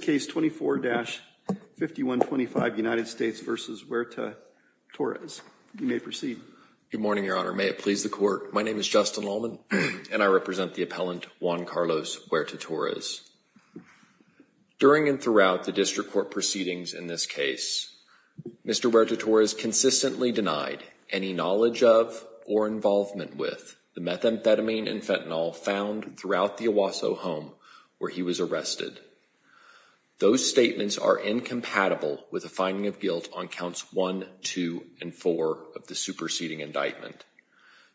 During and throughout the district court proceedings in this case, Mr. Huerta-Torres consistently denied any knowledge of or involvement with the methamphetamine and fentanyl found throughout the Owasso home where he was arrested. Those statements are incompatible with a finding of guilt on counts 1, 2, and 4 of the superseding indictment.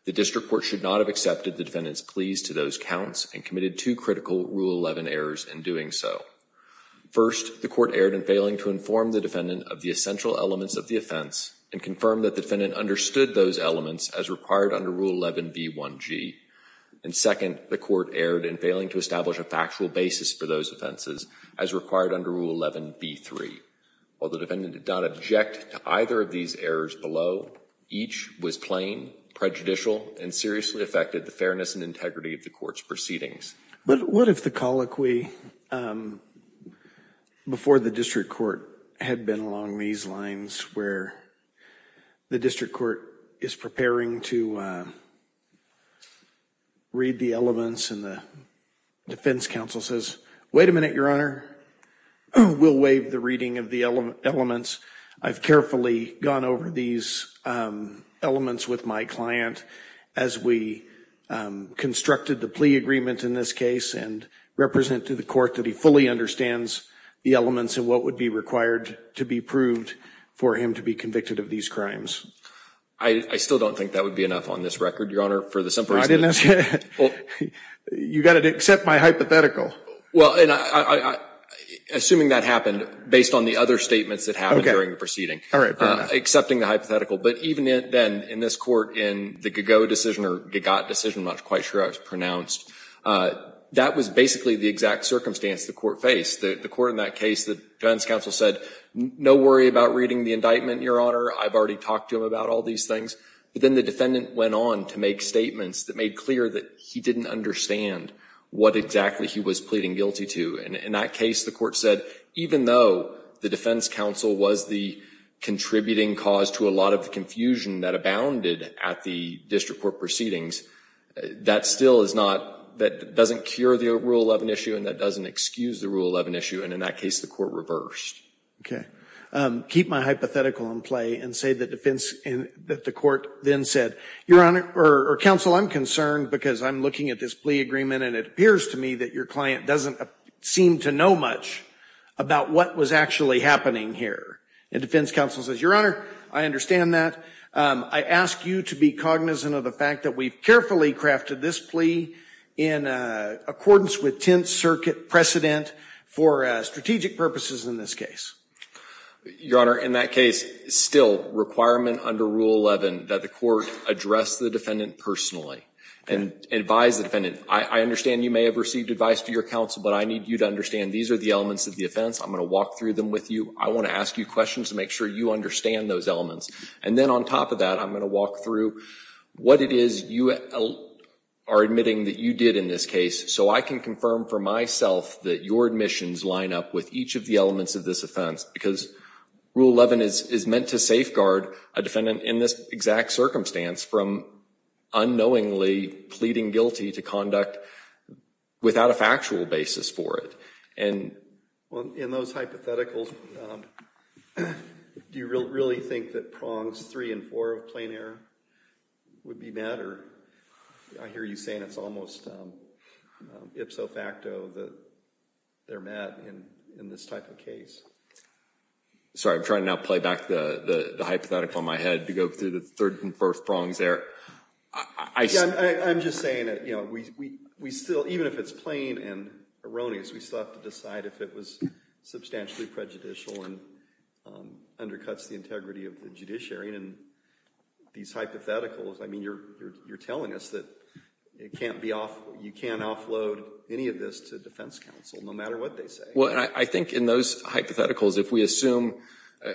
The district court should not have accepted the defendant's pleas to those counts and committed two critical Rule 11 errors in doing so. First, the court erred in failing to inform the defendant of the essential elements of the offense and confirm that the defendant understood those elements as required under Rule 11b1g. And second, the court erred in failing to establish a factual basis for those offenses as required under Rule 11b3. While the defendant did not object to either of these errors below, each was plain, prejudicial, and seriously affected the fairness and integrity of the court's proceedings. But what if the colloquy before the district court had been along these lines where the district court is preparing to read the elements and the defense counsel says, wait a minute, your honor, we'll waive the reading of the elements. I've carefully gone over these elements with my client as we constructed the plea agreement in this case and represented the court that he fully understands the elements and what would be required to be proved for him to be convicted of these crimes. I still don't think that would be enough on this record, your honor, for the simple reason that you got to accept my hypothetical. Well, assuming that happened based on the other statements that happened during the proceeding, accepting the hypothetical. But even then, in this court, in the Gagot decision, I'm not quite sure how it's pronounced, that was basically the exact circumstance the court faced. The court in that case, the defense counsel said, no worry about reading the indictment, your honor, I've already talked to him about all these things. But then the defendant went on to make statements that made clear that he didn't understand what exactly he was pleading guilty to. And in that case, the court said, even though the defense counsel was the contributing cause to a lot of the confusion that abounded at the district court proceedings, that still is not, that doesn't cure the Rule 11 issue and that doesn't excuse the Rule 11 issue. And in that case, the court reversed. Okay. Keep my hypothetical in play and say that defense, that the court then said, your honor, or counsel, I'm concerned because I'm looking at this plea agreement and it appears to me that your client doesn't seem to know much about what was actually happening here. And defense counsel says, your honor, I understand that. I ask you to be cognizant of the fact that we've carefully crafted this plea in accordance with Tenth Circuit precedent for strategic purposes in this case. Your honor, in that case, still requirement under Rule 11 that the court address the defendant personally and advise the defendant. I understand you may have received advice from your counsel, but I need you to understand these are the elements of the offense. I'm going to walk through them with you. I want to ask you questions to make sure you understand those elements. And then on top of that, I'm going to walk through what it is you are admitting that you did in this case. So I can confirm for myself that your admissions line up with each of the elements of this offense because Rule 11 is meant to safeguard a defendant in this exact circumstance from unknowingly pleading guilty to conduct without a factual basis for it. Well, in those hypotheticals, do you really think that prongs three and four of plain error would be met? I hear you saying it's almost ipso facto that they're met in this type of case. Sorry, I'm trying to now play back the hypothetical in my head to go through the third and first prongs there. I'm just saying that, you know, we still, even if it's plain and erroneous, we still have to decide if it was substantially prejudicial and undercuts the integrity of the judiciary. And these hypotheticals, I mean, you're telling us that you can't offload any of this to defense counsel, no matter what they say. Well, I think in those hypotheticals, if we assume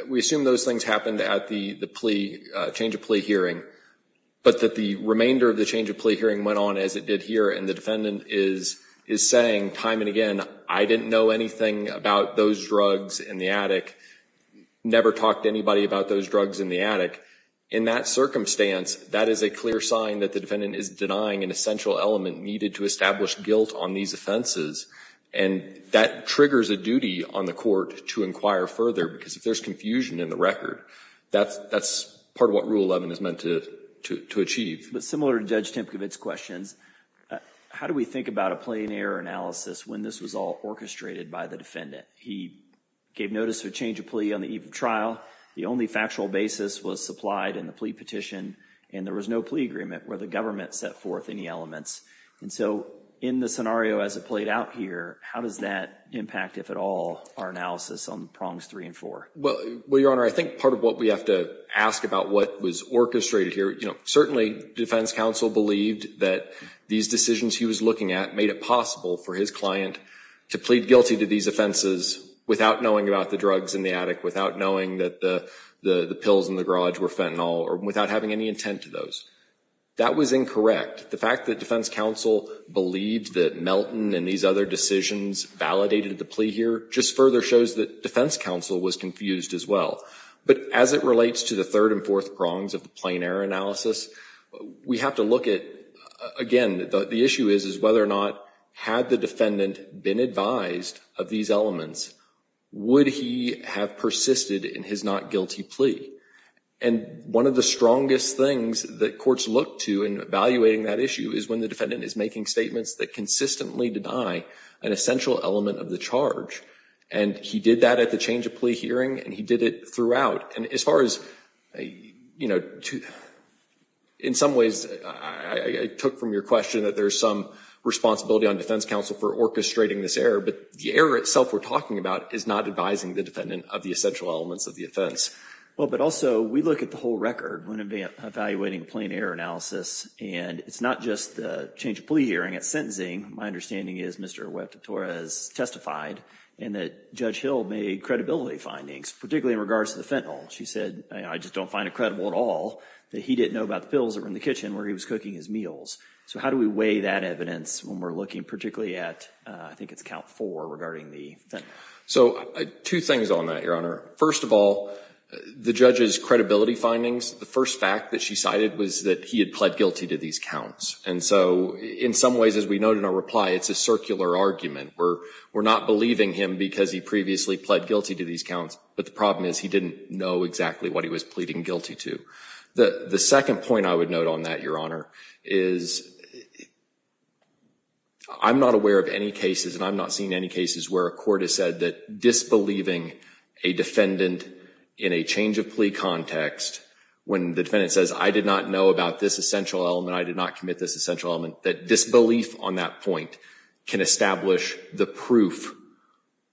those things happened at the change of plea hearing, but that the remainder of the change of plea hearing went on as it did here and the defendant is saying time and again, I didn't know anything about those drugs in the attic, never talked to anybody about those drugs in the attic, in that circumstance, that is a clear sign that the defendant is denying an essential element needed to establish guilt on these offenses. And that triggers a duty on the court to inquire further because if there's confusion in the record, that's part of what Rule 11 is meant to achieve. But similar to Judge Tempkowitz's questions, how do we think about a plain error analysis when this was all orchestrated by the defendant? He gave notice of a change of plea on the eve of trial. The only factual basis was supplied in the plea petition, and there was no plea agreement where the government set forth any elements. And so in the scenario as it played out here, how does that impact, if at all, our analysis on prongs three and four? Well, Your Honor, I think part of what we have to ask about what was orchestrated here, you know, certainly defense counsel believed that these decisions he was looking at made it possible for his client to plead guilty to these offenses without knowing about the drugs in the attic, without knowing that the pills in the garage were fentanyl, or without having any intent to those. That was incorrect. The fact that defense counsel believed that Melton and these other decisions validated the plea here just further shows that defense counsel was confused as well. But as it relates to the third and fourth prongs of the plain error analysis, we have to look at, again, the issue is whether or not had the defendant been advised of these elements, would he have persisted in his not guilty plea? And one of the strongest things that courts look to in evaluating that issue is when the defendant is making statements that consistently deny an essential element of the charge. And he did that at the change of plea hearing, and he did it throughout. And as far as, you know, in some ways, I took from your question that there's some responsibility on defense counsel for orchestrating this error, but the error itself we're talking about is not advising the defendant of the essential elements of the offense. Well, but also we look at the whole record when evaluating plain error analysis, and it's not just the change of plea hearing, it's sentencing. My understanding is Mr. Huerta-Torres testified, and that Judge Hill made credibility findings, particularly in regards to the fentanyl. She said, I just don't find it credible at all that he didn't know about the pills that were in the kitchen where he was cooking his meals. So how do we weigh that evidence when we're looking particularly at, I think it's count four regarding the fentanyl? So two things on that, Your Honor. First of all, the judge's credibility findings, the first fact that she cited was that he had pled guilty to these counts. And so in some ways, as we noted in our reply, it's a circular argument. We're not believing him because he previously pled guilty to these counts, but the problem is he didn't know exactly what he was pleading guilty to. The second point I would note on that, Your Honor, is I'm not aware of any cases, and I'm not seeing any cases where a court has said that disbelieving a defendant in a change of plea context, when the defendant says, I did not know about this essential element, and I did not commit this essential element, that disbelief on that point can establish the proof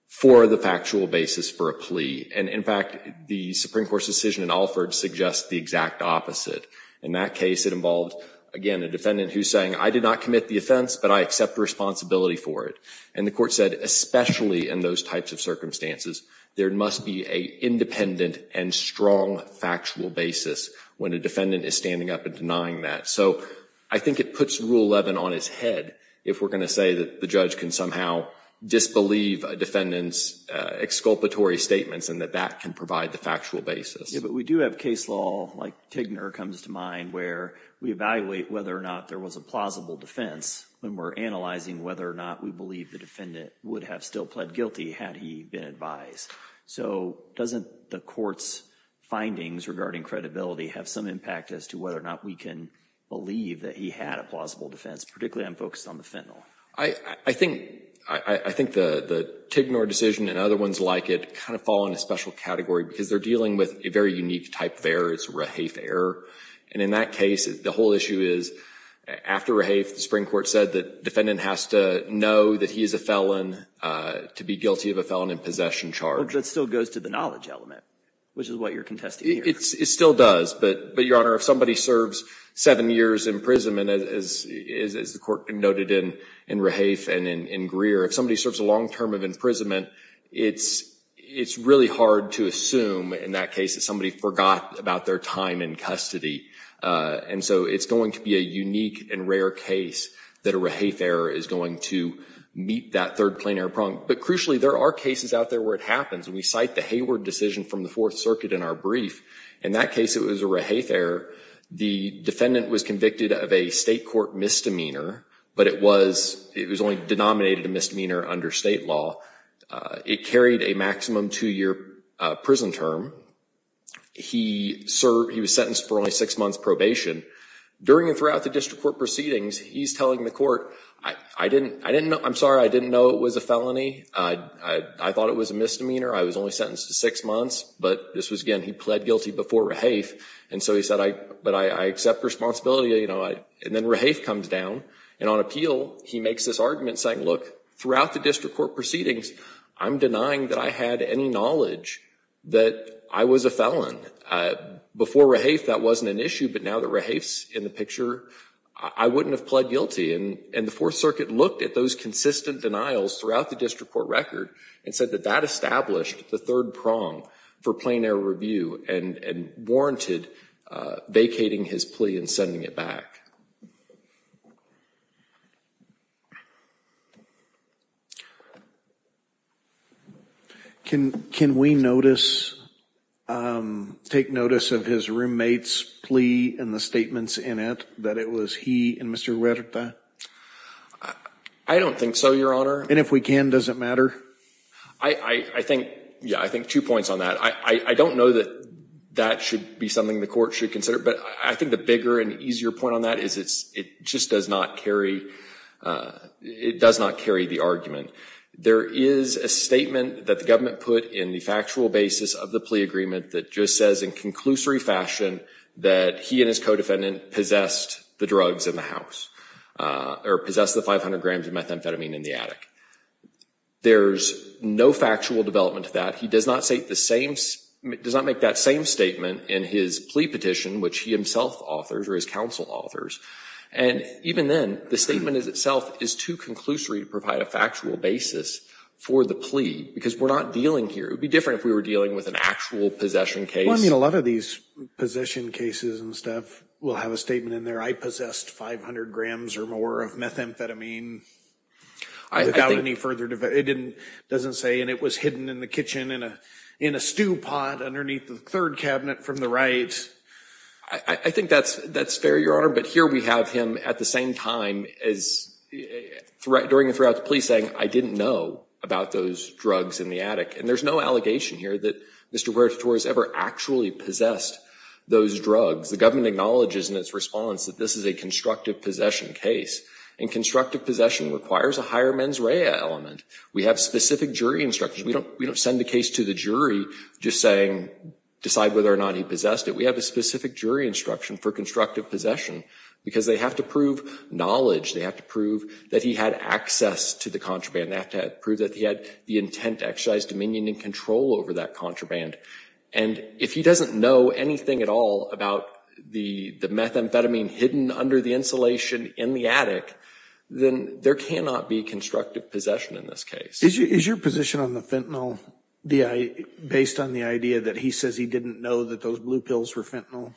for the factual basis for a plea. And in fact, the Supreme Court's decision in Alford suggests the exact opposite. In that case, it involved, again, a defendant who's saying, I did not commit the offense, but I accept responsibility for it. And the court said, especially in those types of circumstances, there must be a independent and strong factual basis when a defendant is standing up and denying that. So I think it puts Rule 11 on his head if we're going to say that the judge can somehow disbelieve a defendant's exculpatory statements and that that can provide the factual basis. Yeah, but we do have case law, like Tigner comes to mind, where we evaluate whether or not there was a plausible defense when we're analyzing whether or not we believe the defendant would have still pled guilty had he been advised. So doesn't the court's findings regarding credibility have some impact as to whether or not we can believe that he had a plausible defense, particularly when focused on the fentanyl? I think the Tigner decision and other ones like it kind of fall in a special category because they're dealing with a very unique type of error. It's a Rahaf error. And in that case, the whole issue is, after Rahaf, the Supreme Court said the defendant has to know that he is a felon to be guilty of a felon in possession charge. But that still goes to the knowledge element, which is what you're contesting here. It still does. But, Your Honor, if somebody serves seven years imprisonment, as the court noted in Rahaf and in Greer, if somebody serves a long term of imprisonment, it's really hard to assume in that case that somebody forgot about their time in custody. And so it's going to be a unique and rare case that a Rahaf error is going to meet that third plain error problem. But crucially, there are cases out there where it happens. We cite the Hayward decision from the Fourth Circuit in our brief. In that case, it was a Rahaf error. The defendant was convicted of a state court misdemeanor, but it was only denominated a misdemeanor under state law. It carried a maximum two-year prison term. He was sentenced for only six months probation. During and throughout the district court proceedings, he's telling the court, I'm sorry, I didn't know it was a felony. I thought it was a misdemeanor. I was only sentenced to six months. But I pled guilty before Rahaf. And so he said, but I accept responsibility. And then Rahaf comes down. And on appeal, he makes this argument saying, look, throughout the district court proceedings, I'm denying that I had any knowledge that I was a felon. Before Rahaf, that wasn't an issue. But now that Rahaf's in the picture, I wouldn't have pled guilty. And the Fourth Circuit looked at those consistent denials throughout the district court record and said that that established the third prong for plain air review and warranted vacating his plea and sending it back. Can we notice, take notice of his roommate's plea and the statements in it that it was he and Mr. Huerta? I don't think so, Your Honor. And if we can, does it matter? I think, yeah, I think two points on that. I don't know that that should be something the court should consider. But I think the bigger and easier point on that is it just does not carry, it does not carry the argument. There is a statement that the government put in the factual basis of the plea agreement that just says in conclusory fashion that he and his co-defendant possessed the drugs in the house or possessed the 500 grams of methamphetamine in the attic. There's no factual development to that. He does not say the same, does not make that same statement in his plea petition, which he himself authors or his counsel authors. And even then, the statement is itself is too conclusory to provide a factual basis for the plea because we're not dealing here. It would be different if we were dealing with an actual possession case. Well, I mean, a lot of these possession cases and stuff will have a statement in there. I possessed 500 grams or more of methamphetamine without any further debate. It doesn't say and it was hidden in the kitchen in a stew pot underneath the third cabinet from the right. I think that's fair, Your Honor. But here we have him at the same time during and throughout the plea saying, I didn't know about those drugs in the attic. And there's no allegation here that Mr. Huerta Torres ever actually possessed those drugs. The government acknowledges in its response that this is a constructive possession case. And constructive possession requires a higher mens rea element. We have specific jury instructions. We don't send the case to the jury just saying, decide whether or not he possessed it. We have a specific jury instruction for constructive possession because they have to prove knowledge. They have to prove that he had access to the contraband. They have to prove that he had the intent, exercise, dominion, and control over that contraband. And if he doesn't know anything at all about the methamphetamine hidden under the insulation in the attic, then there cannot be constructive possession in this case. Is your position on the fentanyl D.I. based on the idea that he says he didn't know that those blue pills were fentanyl?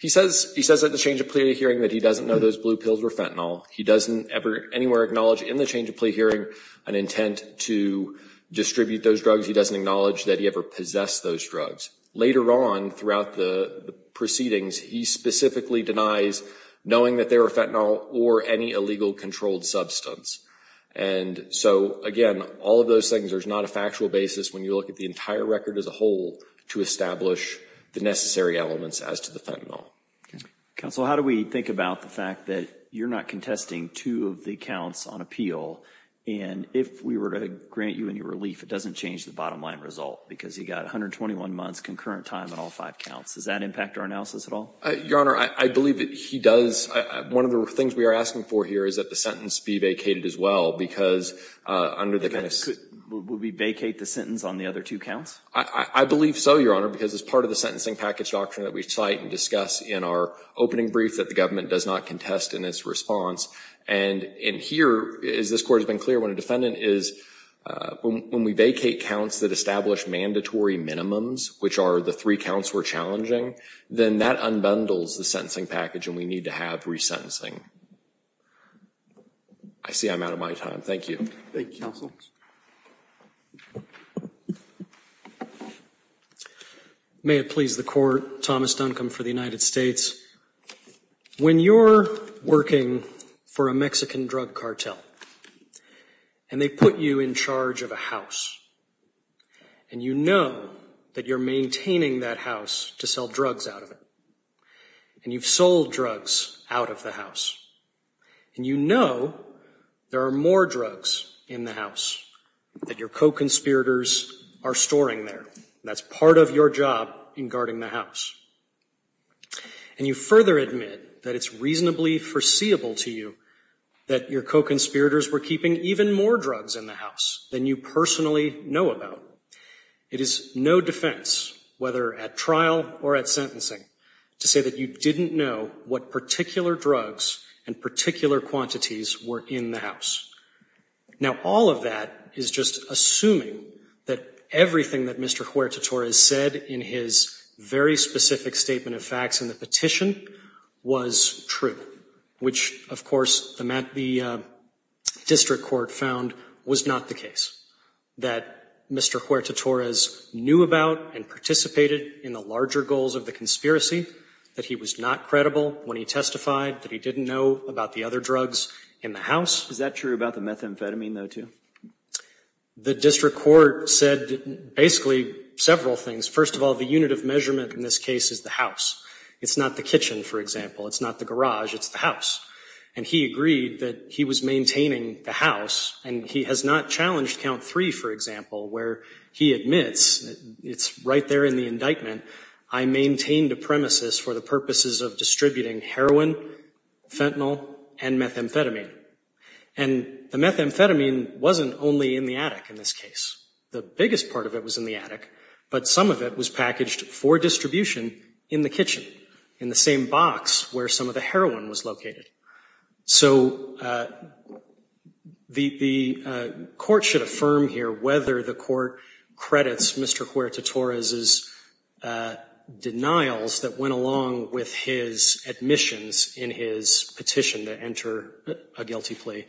He says at the change of plea hearing that he doesn't know those blue pills were fentanyl. He doesn't ever anywhere acknowledge in the change of plea hearing an intent to distribute those drugs. He doesn't acknowledge that he ever possessed those drugs. Later on throughout the proceedings, he specifically denies knowing that they were fentanyl or any illegal controlled substance. And so again, all of those things, there's not a factual basis when you look at the entire record as a whole to establish the necessary elements as to the fentanyl. Counsel, how do we think about the fact that you're not contesting two of the counts on appeal and if we were to grant you any relief, it doesn't change the bottom line result because you've got 121 months concurrent time on all five counts. Does that impact our analysis at all? Your Honor, I believe that he does. One of the things we are asking for here is that the sentence be vacated as well because under the kind of Would we vacate the sentence on the other two counts? I believe so, Your Honor, because it's part of the sentencing package doctrine that we cite and discuss in our opening brief that the government does not contest in its response. And in here, as this Court has been clear, when a defendant is, when we vacate counts that establish mandatory minimums, which are the three counts we're challenging, then that unbundles the sentencing package and we need to have resentencing. I see I'm out of my time. Thank you. Thank you, Counsel. May it please the Court, Thomas Duncombe for the United States. When you're working for a Mexican drug cartel, and they put you in charge of a house, and you know that you're maintaining that house to sell drugs out of it, and you've sold drugs out of the house, and you know there are more drugs in the house that your co-conspirators are storing there, that's part of your job in guarding the house, and you further admit that it's reasonably foreseeable to you that your co-conspirators were keeping even more drugs in the house than you personally know about, it is no defense, whether at trial or at sentencing, to say that you didn't know what particular drugs and particular quantities were in the house. Now all of that is just assuming that everything that Mr. Huerta Torres said in his very specific statement of facts in the petition was true, which, of course, the district court found was not the case, that Mr. Huerta Torres knew about and participated in the larger goals of the conspiracy, that he was not credible when he testified, that he didn't know about the other drugs in the house. Is that true about the methamphetamine, though, too? The district court said basically several things. First of all, the unit of measurement in this case is the house. It's not the kitchen, for example. It's not the garage. It's the house. And he agreed that he was maintaining the house, and he has not challenged count three, for example, where he admits, it's right there in the indictment, I maintained a premises for the purposes of distributing heroin, fentanyl, and methamphetamine. And the methamphetamine wasn't only in the attic in this case. The biggest part of it was in the attic. But some of it was packaged for distribution in the kitchen, in the same box where some of the heroin was located. So the court should affirm here whether the court credits Mr. Huerta Torres' denials that went along with his admissions in his petition to enter a guilty plea,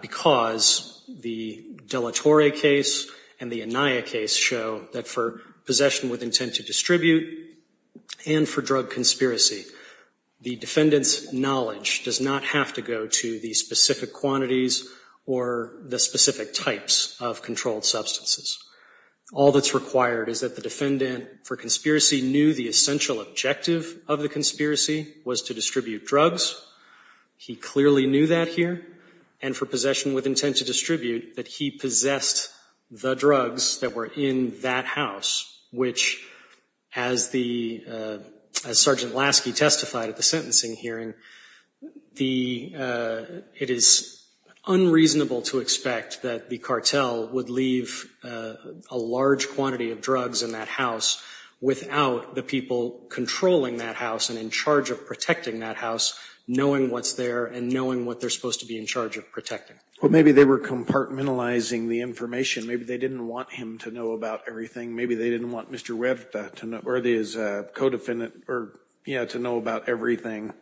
because the de la Torre case and the Anaya case show that for possession with intent to distribute and for drug conspiracy, the defendant's knowledge does not have to go to the specific quantities or the specific types of controlled substances. All that's required is that the defendant, for conspiracy, knew the essential objective of the conspiracy was to distribute drugs. He clearly knew that here. And for possession with intent to distribute, that he possessed the drugs that were in that house, which, as the, as Sergeant Lasky testified at the sentencing hearing, the, it is unreasonable to expect that the cartel would leave a large quantity of drugs in that house without the people controlling that house and in charge of protecting that house knowing what's there and knowing what they're supposed to be in charge of protecting. Well, maybe they were compartmentalizing the information. Maybe they didn't want him to know about everything. Maybe they didn't want Mr. Huerta to know, or his co-defendant, or, you know, to know about everything.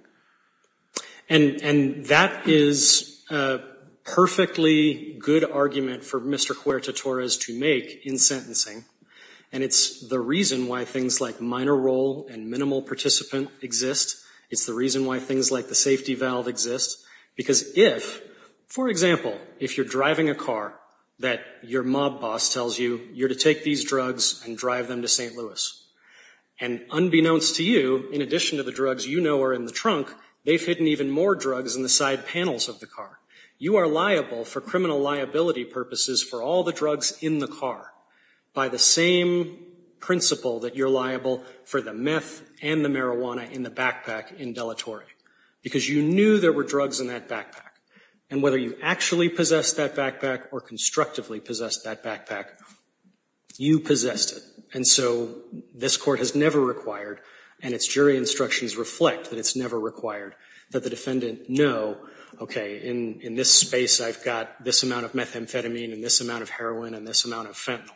And that is a perfectly good argument for Mr. Huerta Torres to make in sentencing. And it's the reason why things like minor role and minimal participant exist. It's the reason why things like the safety valve exist, because if, for example, if you're driving a car that your mob boss tells you you're to take these drugs and drive them to St. Louis, and unbeknownst to you, in addition to the drugs you know are in the trunk, they've hidden even more drugs in the side panels of the car, you are liable for criminal liability purposes for all the drugs in the car by the same principle that you're liable for the meth and the marijuana in the backpack in deletory, because you knew there were drugs in that backpack. And whether you actually possessed that backpack or constructively possessed that backpack, you possessed it. And so this court has never required, and its jury instructions reflect that it's never required, that the defendant know, okay, in this space I've got this amount of methamphetamine and this amount of heroin and this amount of fentanyl.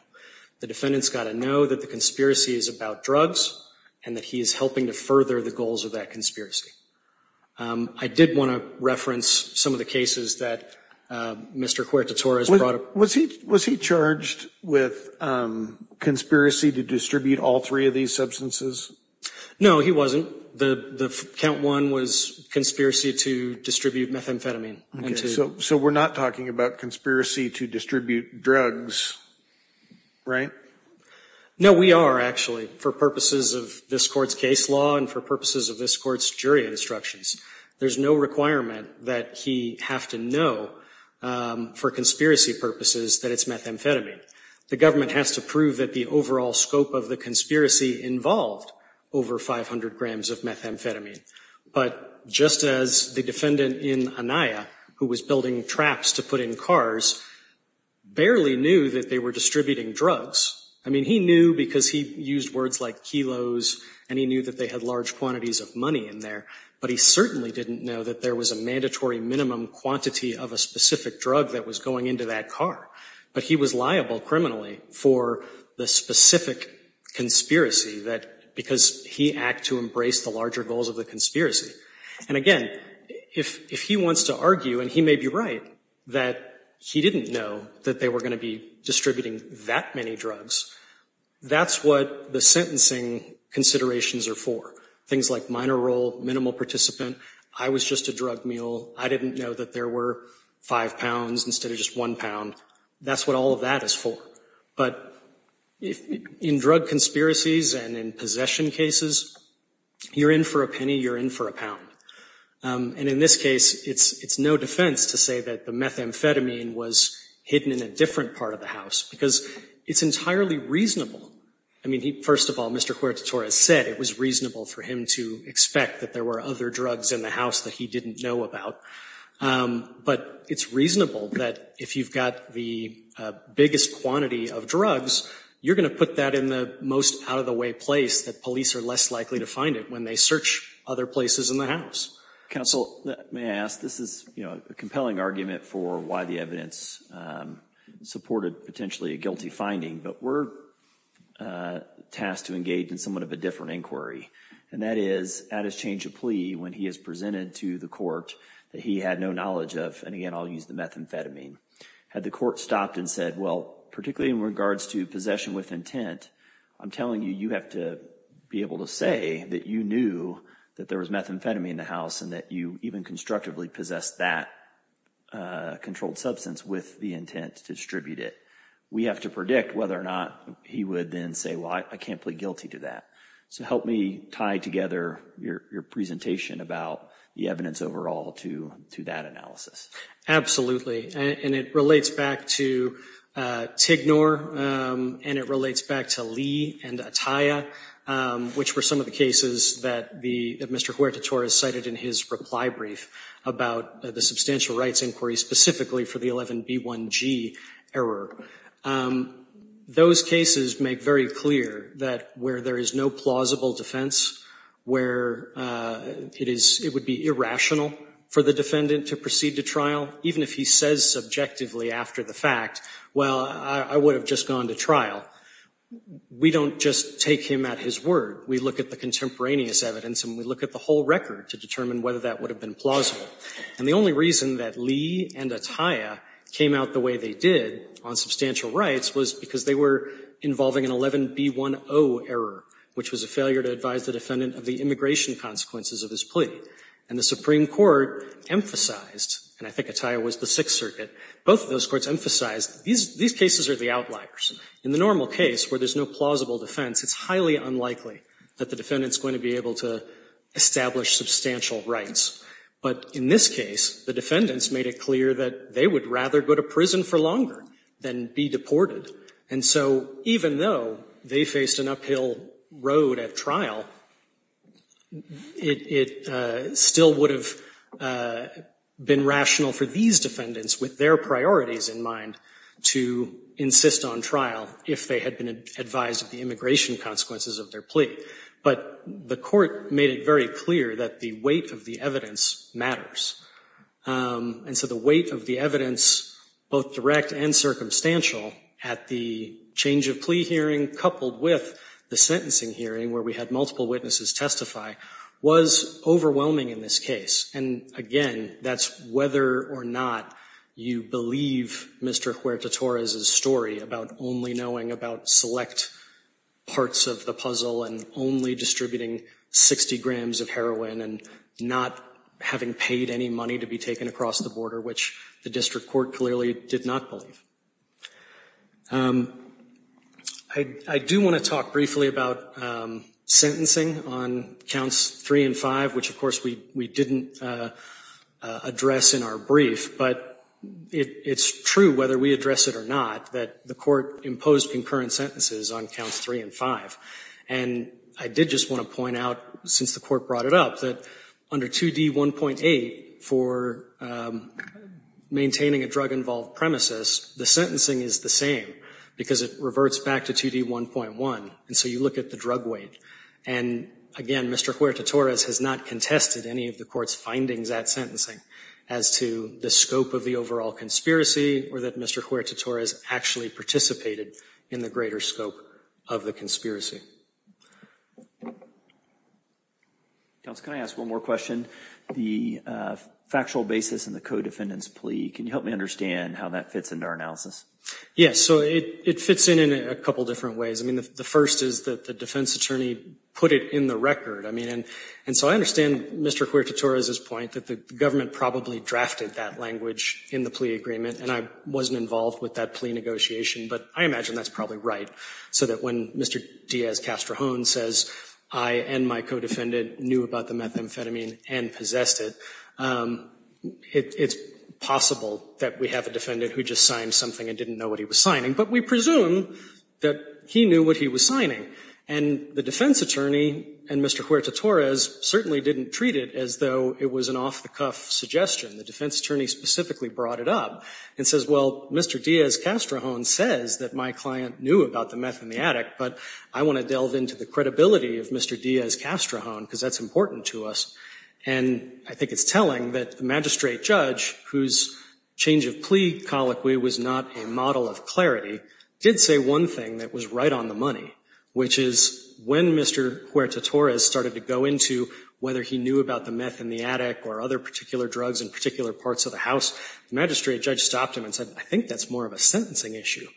The defendant's got to know that the conspiracy is about drugs and that he is helping to further the goals of that conspiracy. I did want to reference some of the cases that Mr. Cuerta Torres brought up. Was he charged with conspiracy to distribute all three of these substances? No, he wasn't. The count one was conspiracy to distribute methamphetamine. So we're not talking about conspiracy to distribute drugs, right? No, we are, actually, for purposes of this court's case law and for purposes of this court's jury instructions. There's no requirement that he have to know for conspiracy purposes that it's methamphetamine. The government has to prove that the overall scope of the conspiracy involved over 500 grams of methamphetamine. But just as the defendant in Anaya, who was building traps to put in cars, barely knew that they were distributing drugs. I mean, he knew because he used words like kilos and he knew that they had large quantities of money in there, but he certainly didn't know that there was a mandatory minimum quantity of a specific drug that was going into that car. But he was liable criminally for the specific conspiracy that because he act to embrace the larger goals of the conspiracy. And again, if he wants to argue, and he may be right, that he didn't know that they were going to be distributing that many drugs, that's what the sentencing considerations are for. Things like minor role, minimal participant. I was just a drug mule. I didn't know that there were five pounds instead of just one pound. That's what all of that is for. But in drug conspiracies and in possession cases, you're in for a penny, you're in for a pound. And in this case, it's no defense to say that the methamphetamine was hidden in a different part of the house, because it's entirely reasonable. I mean, first of all, Mr. Cuerta Torres said it was reasonable for him to expect that there were other drugs in the house that he didn't know about. But it's reasonable that if you've got the biggest quantity of drugs, you're going to put that in the most out-of-the-way place that police are less likely to find it when they search other places in the house. Counsel, may I ask, this is a compelling argument for why the evidence supported potentially a guilty finding, but we're tasked to engage in somewhat of a different inquiry. And that is, at his change of plea, when he is presented to the court that he had no knowledge of, and again, I'll use the methamphetamine, had the court stopped and said, well, particularly in regards to possession with intent, I'm telling you, you have to be able to say that you knew that there was methamphetamine in the house and that you even constructively possessed that controlled substance with the intent to distribute it. We have to predict whether or not he would then say, well, I can't plead guilty to that. So help me tie together your presentation about the evidence overall to that analysis. And it relates back to Tignor, and it relates back to Lee and Atiyah, which were some of the cases that Mr. Huerta Torres cited in his reply brief about the substantial rights inquiry specifically for the 11B1G error. Those cases make very clear that where there is no plausible defense, where it is, it would be irrational for the defendant to proceed to trial, even if he says subjectively after the fact, well, I would have just gone to trial. We don't just take him at his word. We look at the contemporaneous evidence and we look at the whole record to determine whether that would have been plausible. And the only reason that Lee and Atiyah came out the way they did on substantial rights was because they were involving an 11B1O error, which was a failure to advise the defendant of the immigration consequences of his plea. And the Supreme Court emphasized, and I think Atiyah was the Sixth Circuit, both of those courts emphasized these cases are the outliers. In the normal case where there is no plausible defense, it's highly unlikely that the defendant is going to be able to establish substantial rights. But in this case, the defendants made it clear that they would rather go to prison for longer than be deported. And so even though they faced an uphill road at trial, it still would have been rational for these defendants, with their priorities in mind, to insist on trial if they had been advised of the immigration consequences of their plea. But the court made it very clear that the weight of the evidence matters. And so the weight of the evidence, both direct and circumstantial, at the change of plea hearing, coupled with the sentencing hearing where we had multiple witnesses testify, was overwhelming in this case. And again, that's whether or not you believe Mr. Huerta-Torres' story about only knowing about select parts of the puzzle and only distributing 60 grams of heroin and not having paid any money to be taken across the border, which the district court clearly did not believe. I do want to talk briefly about sentencing on counts three and five, which, of course, we didn't address in our brief. But it's true, whether we address it or not, that the court imposed concurrent sentences on counts three and five. And I did just want to point out, since the court brought it up, that under 2D1.8 for maintaining a drug-involved premises, the sentencing is the same because it reverts back to 2D1.1. And so you look at the drug weight. And again, Mr. Huerta-Torres has not contested any of the court's findings at sentencing as to the scope of the overall conspiracy or that Mr. Huerta-Torres actually participated in the greater scope of the conspiracy. Counsel, can I ask one more question? The factual basis in the co-defendant's plea, can you help me understand how that fits into our analysis? Yes, so it fits in in a couple of different ways. I mean, the first is that the defense attorney put it in the record. I mean, and so I understand Mr. Huerta-Torres' point that the government probably drafted that language in the plea agreement. And I wasn't involved with that plea negotiation. But I imagine that's probably right. So that when Mr. Diaz-Castrojones says, I and my co-defendant knew about the methamphetamine and possessed it, it's possible that we have a defendant who just signed something and didn't know what he was signing. But we presume that he knew what he was signing. And the defense attorney and Mr. Huerta-Torres certainly didn't treat it as though it was an off-the-cuff suggestion. The defense attorney specifically brought it up and says, well, Mr. Diaz-Castrojones says that my client knew about the methamphetamine, but I want to delve into the credibility of Mr. Diaz-Castrojones because that's important to us. And I think it's telling that the magistrate judge, whose change of plea colloquy was not a model of clarity, did say one thing that was right on the money, which is when Mr. Huerta-Torres started to go into whether he knew about the meth in the attic or other particular drugs in particular parts of the house, the magistrate judge stopped him and said, I think that's more of a sentencing issue,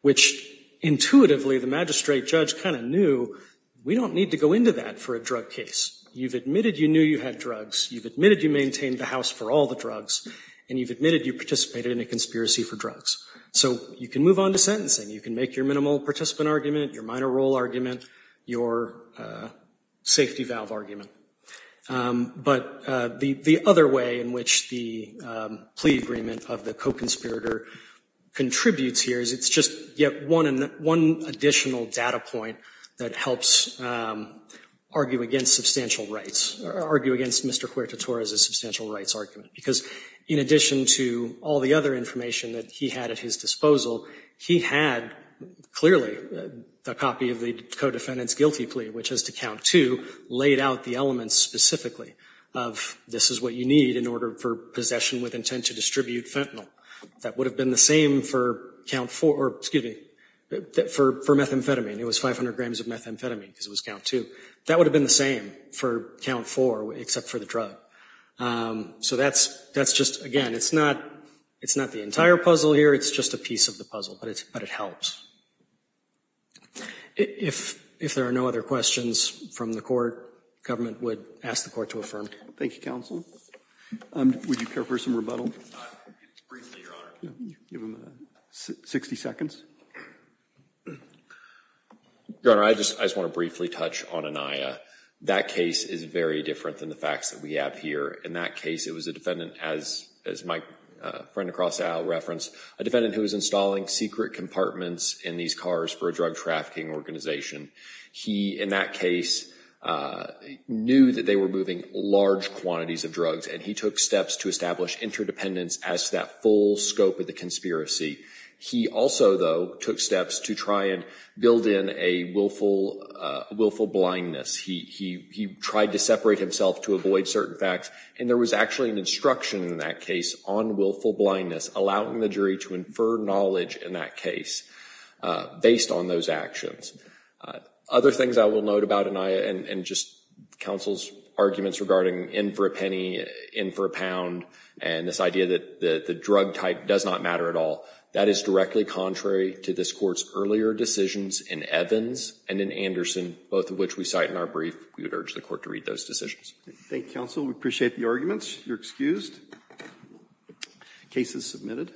which intuitively the magistrate judge kind of knew, we don't need to go into that for a drug case. You've admitted you knew you had drugs. You've admitted you maintained the house for all the drugs. And you've admitted you participated in a conspiracy for drugs. So you can move on to sentencing. You can make your minimal participant argument, your minor role argument, your safety valve argument. But the other way in which the plea agreement of the co-conspirator contributes here is it's just yet one additional data point that helps argue against substantial rights, argue against Mr. Huerta-Torres's substantial rights argument, because in addition to all the other information that he had at his disposal, he had clearly a copy of the co-defendant's guilty plea, which is to count two, laid out the elements specifically of this is what you need in order for possession with intent to distribute fentanyl. That would have been the same for count four, excuse me, for methamphetamine. It was 500 grams of methamphetamine because it was count two. That would have been the same for count four, except for the drug. So that's just, again, it's not the entire puzzle here. It's just a piece of the puzzle. But it helps. If there are no other questions from the court, government would ask the court to affirm. Thank you, counsel. Would you care for some rebuttal? Briefly, your honor. Give him 60 seconds. Your honor, I just want to briefly touch on Aniyah. That case is very different than the facts that we have here. In that case, it was a defendant, as my friend across the aisle referenced, a defendant who was installing secret compartments in these cars for a drug trafficking organization. He, in that case, knew that they were moving large quantities of drugs and he took steps to establish interdependence as to that full scope of the conspiracy. He also, though, took steps to try and build in a willful blindness. He tried to separate himself to avoid certain facts. And there was actually an instruction in that case on willful blindness, allowing the jury to infer knowledge in that case based on those actions. Other things I will note about Aniyah and just counsel's arguments regarding in for a penny, in for a pound, and this idea that the drug type does not matter at all. That is directly contrary to this court's earlier decisions in Evans and in Anderson, both of which we cite in our brief. We would urge the court to read those decisions. Thank you, counsel. We appreciate the arguments. You're excused. Case is submitted.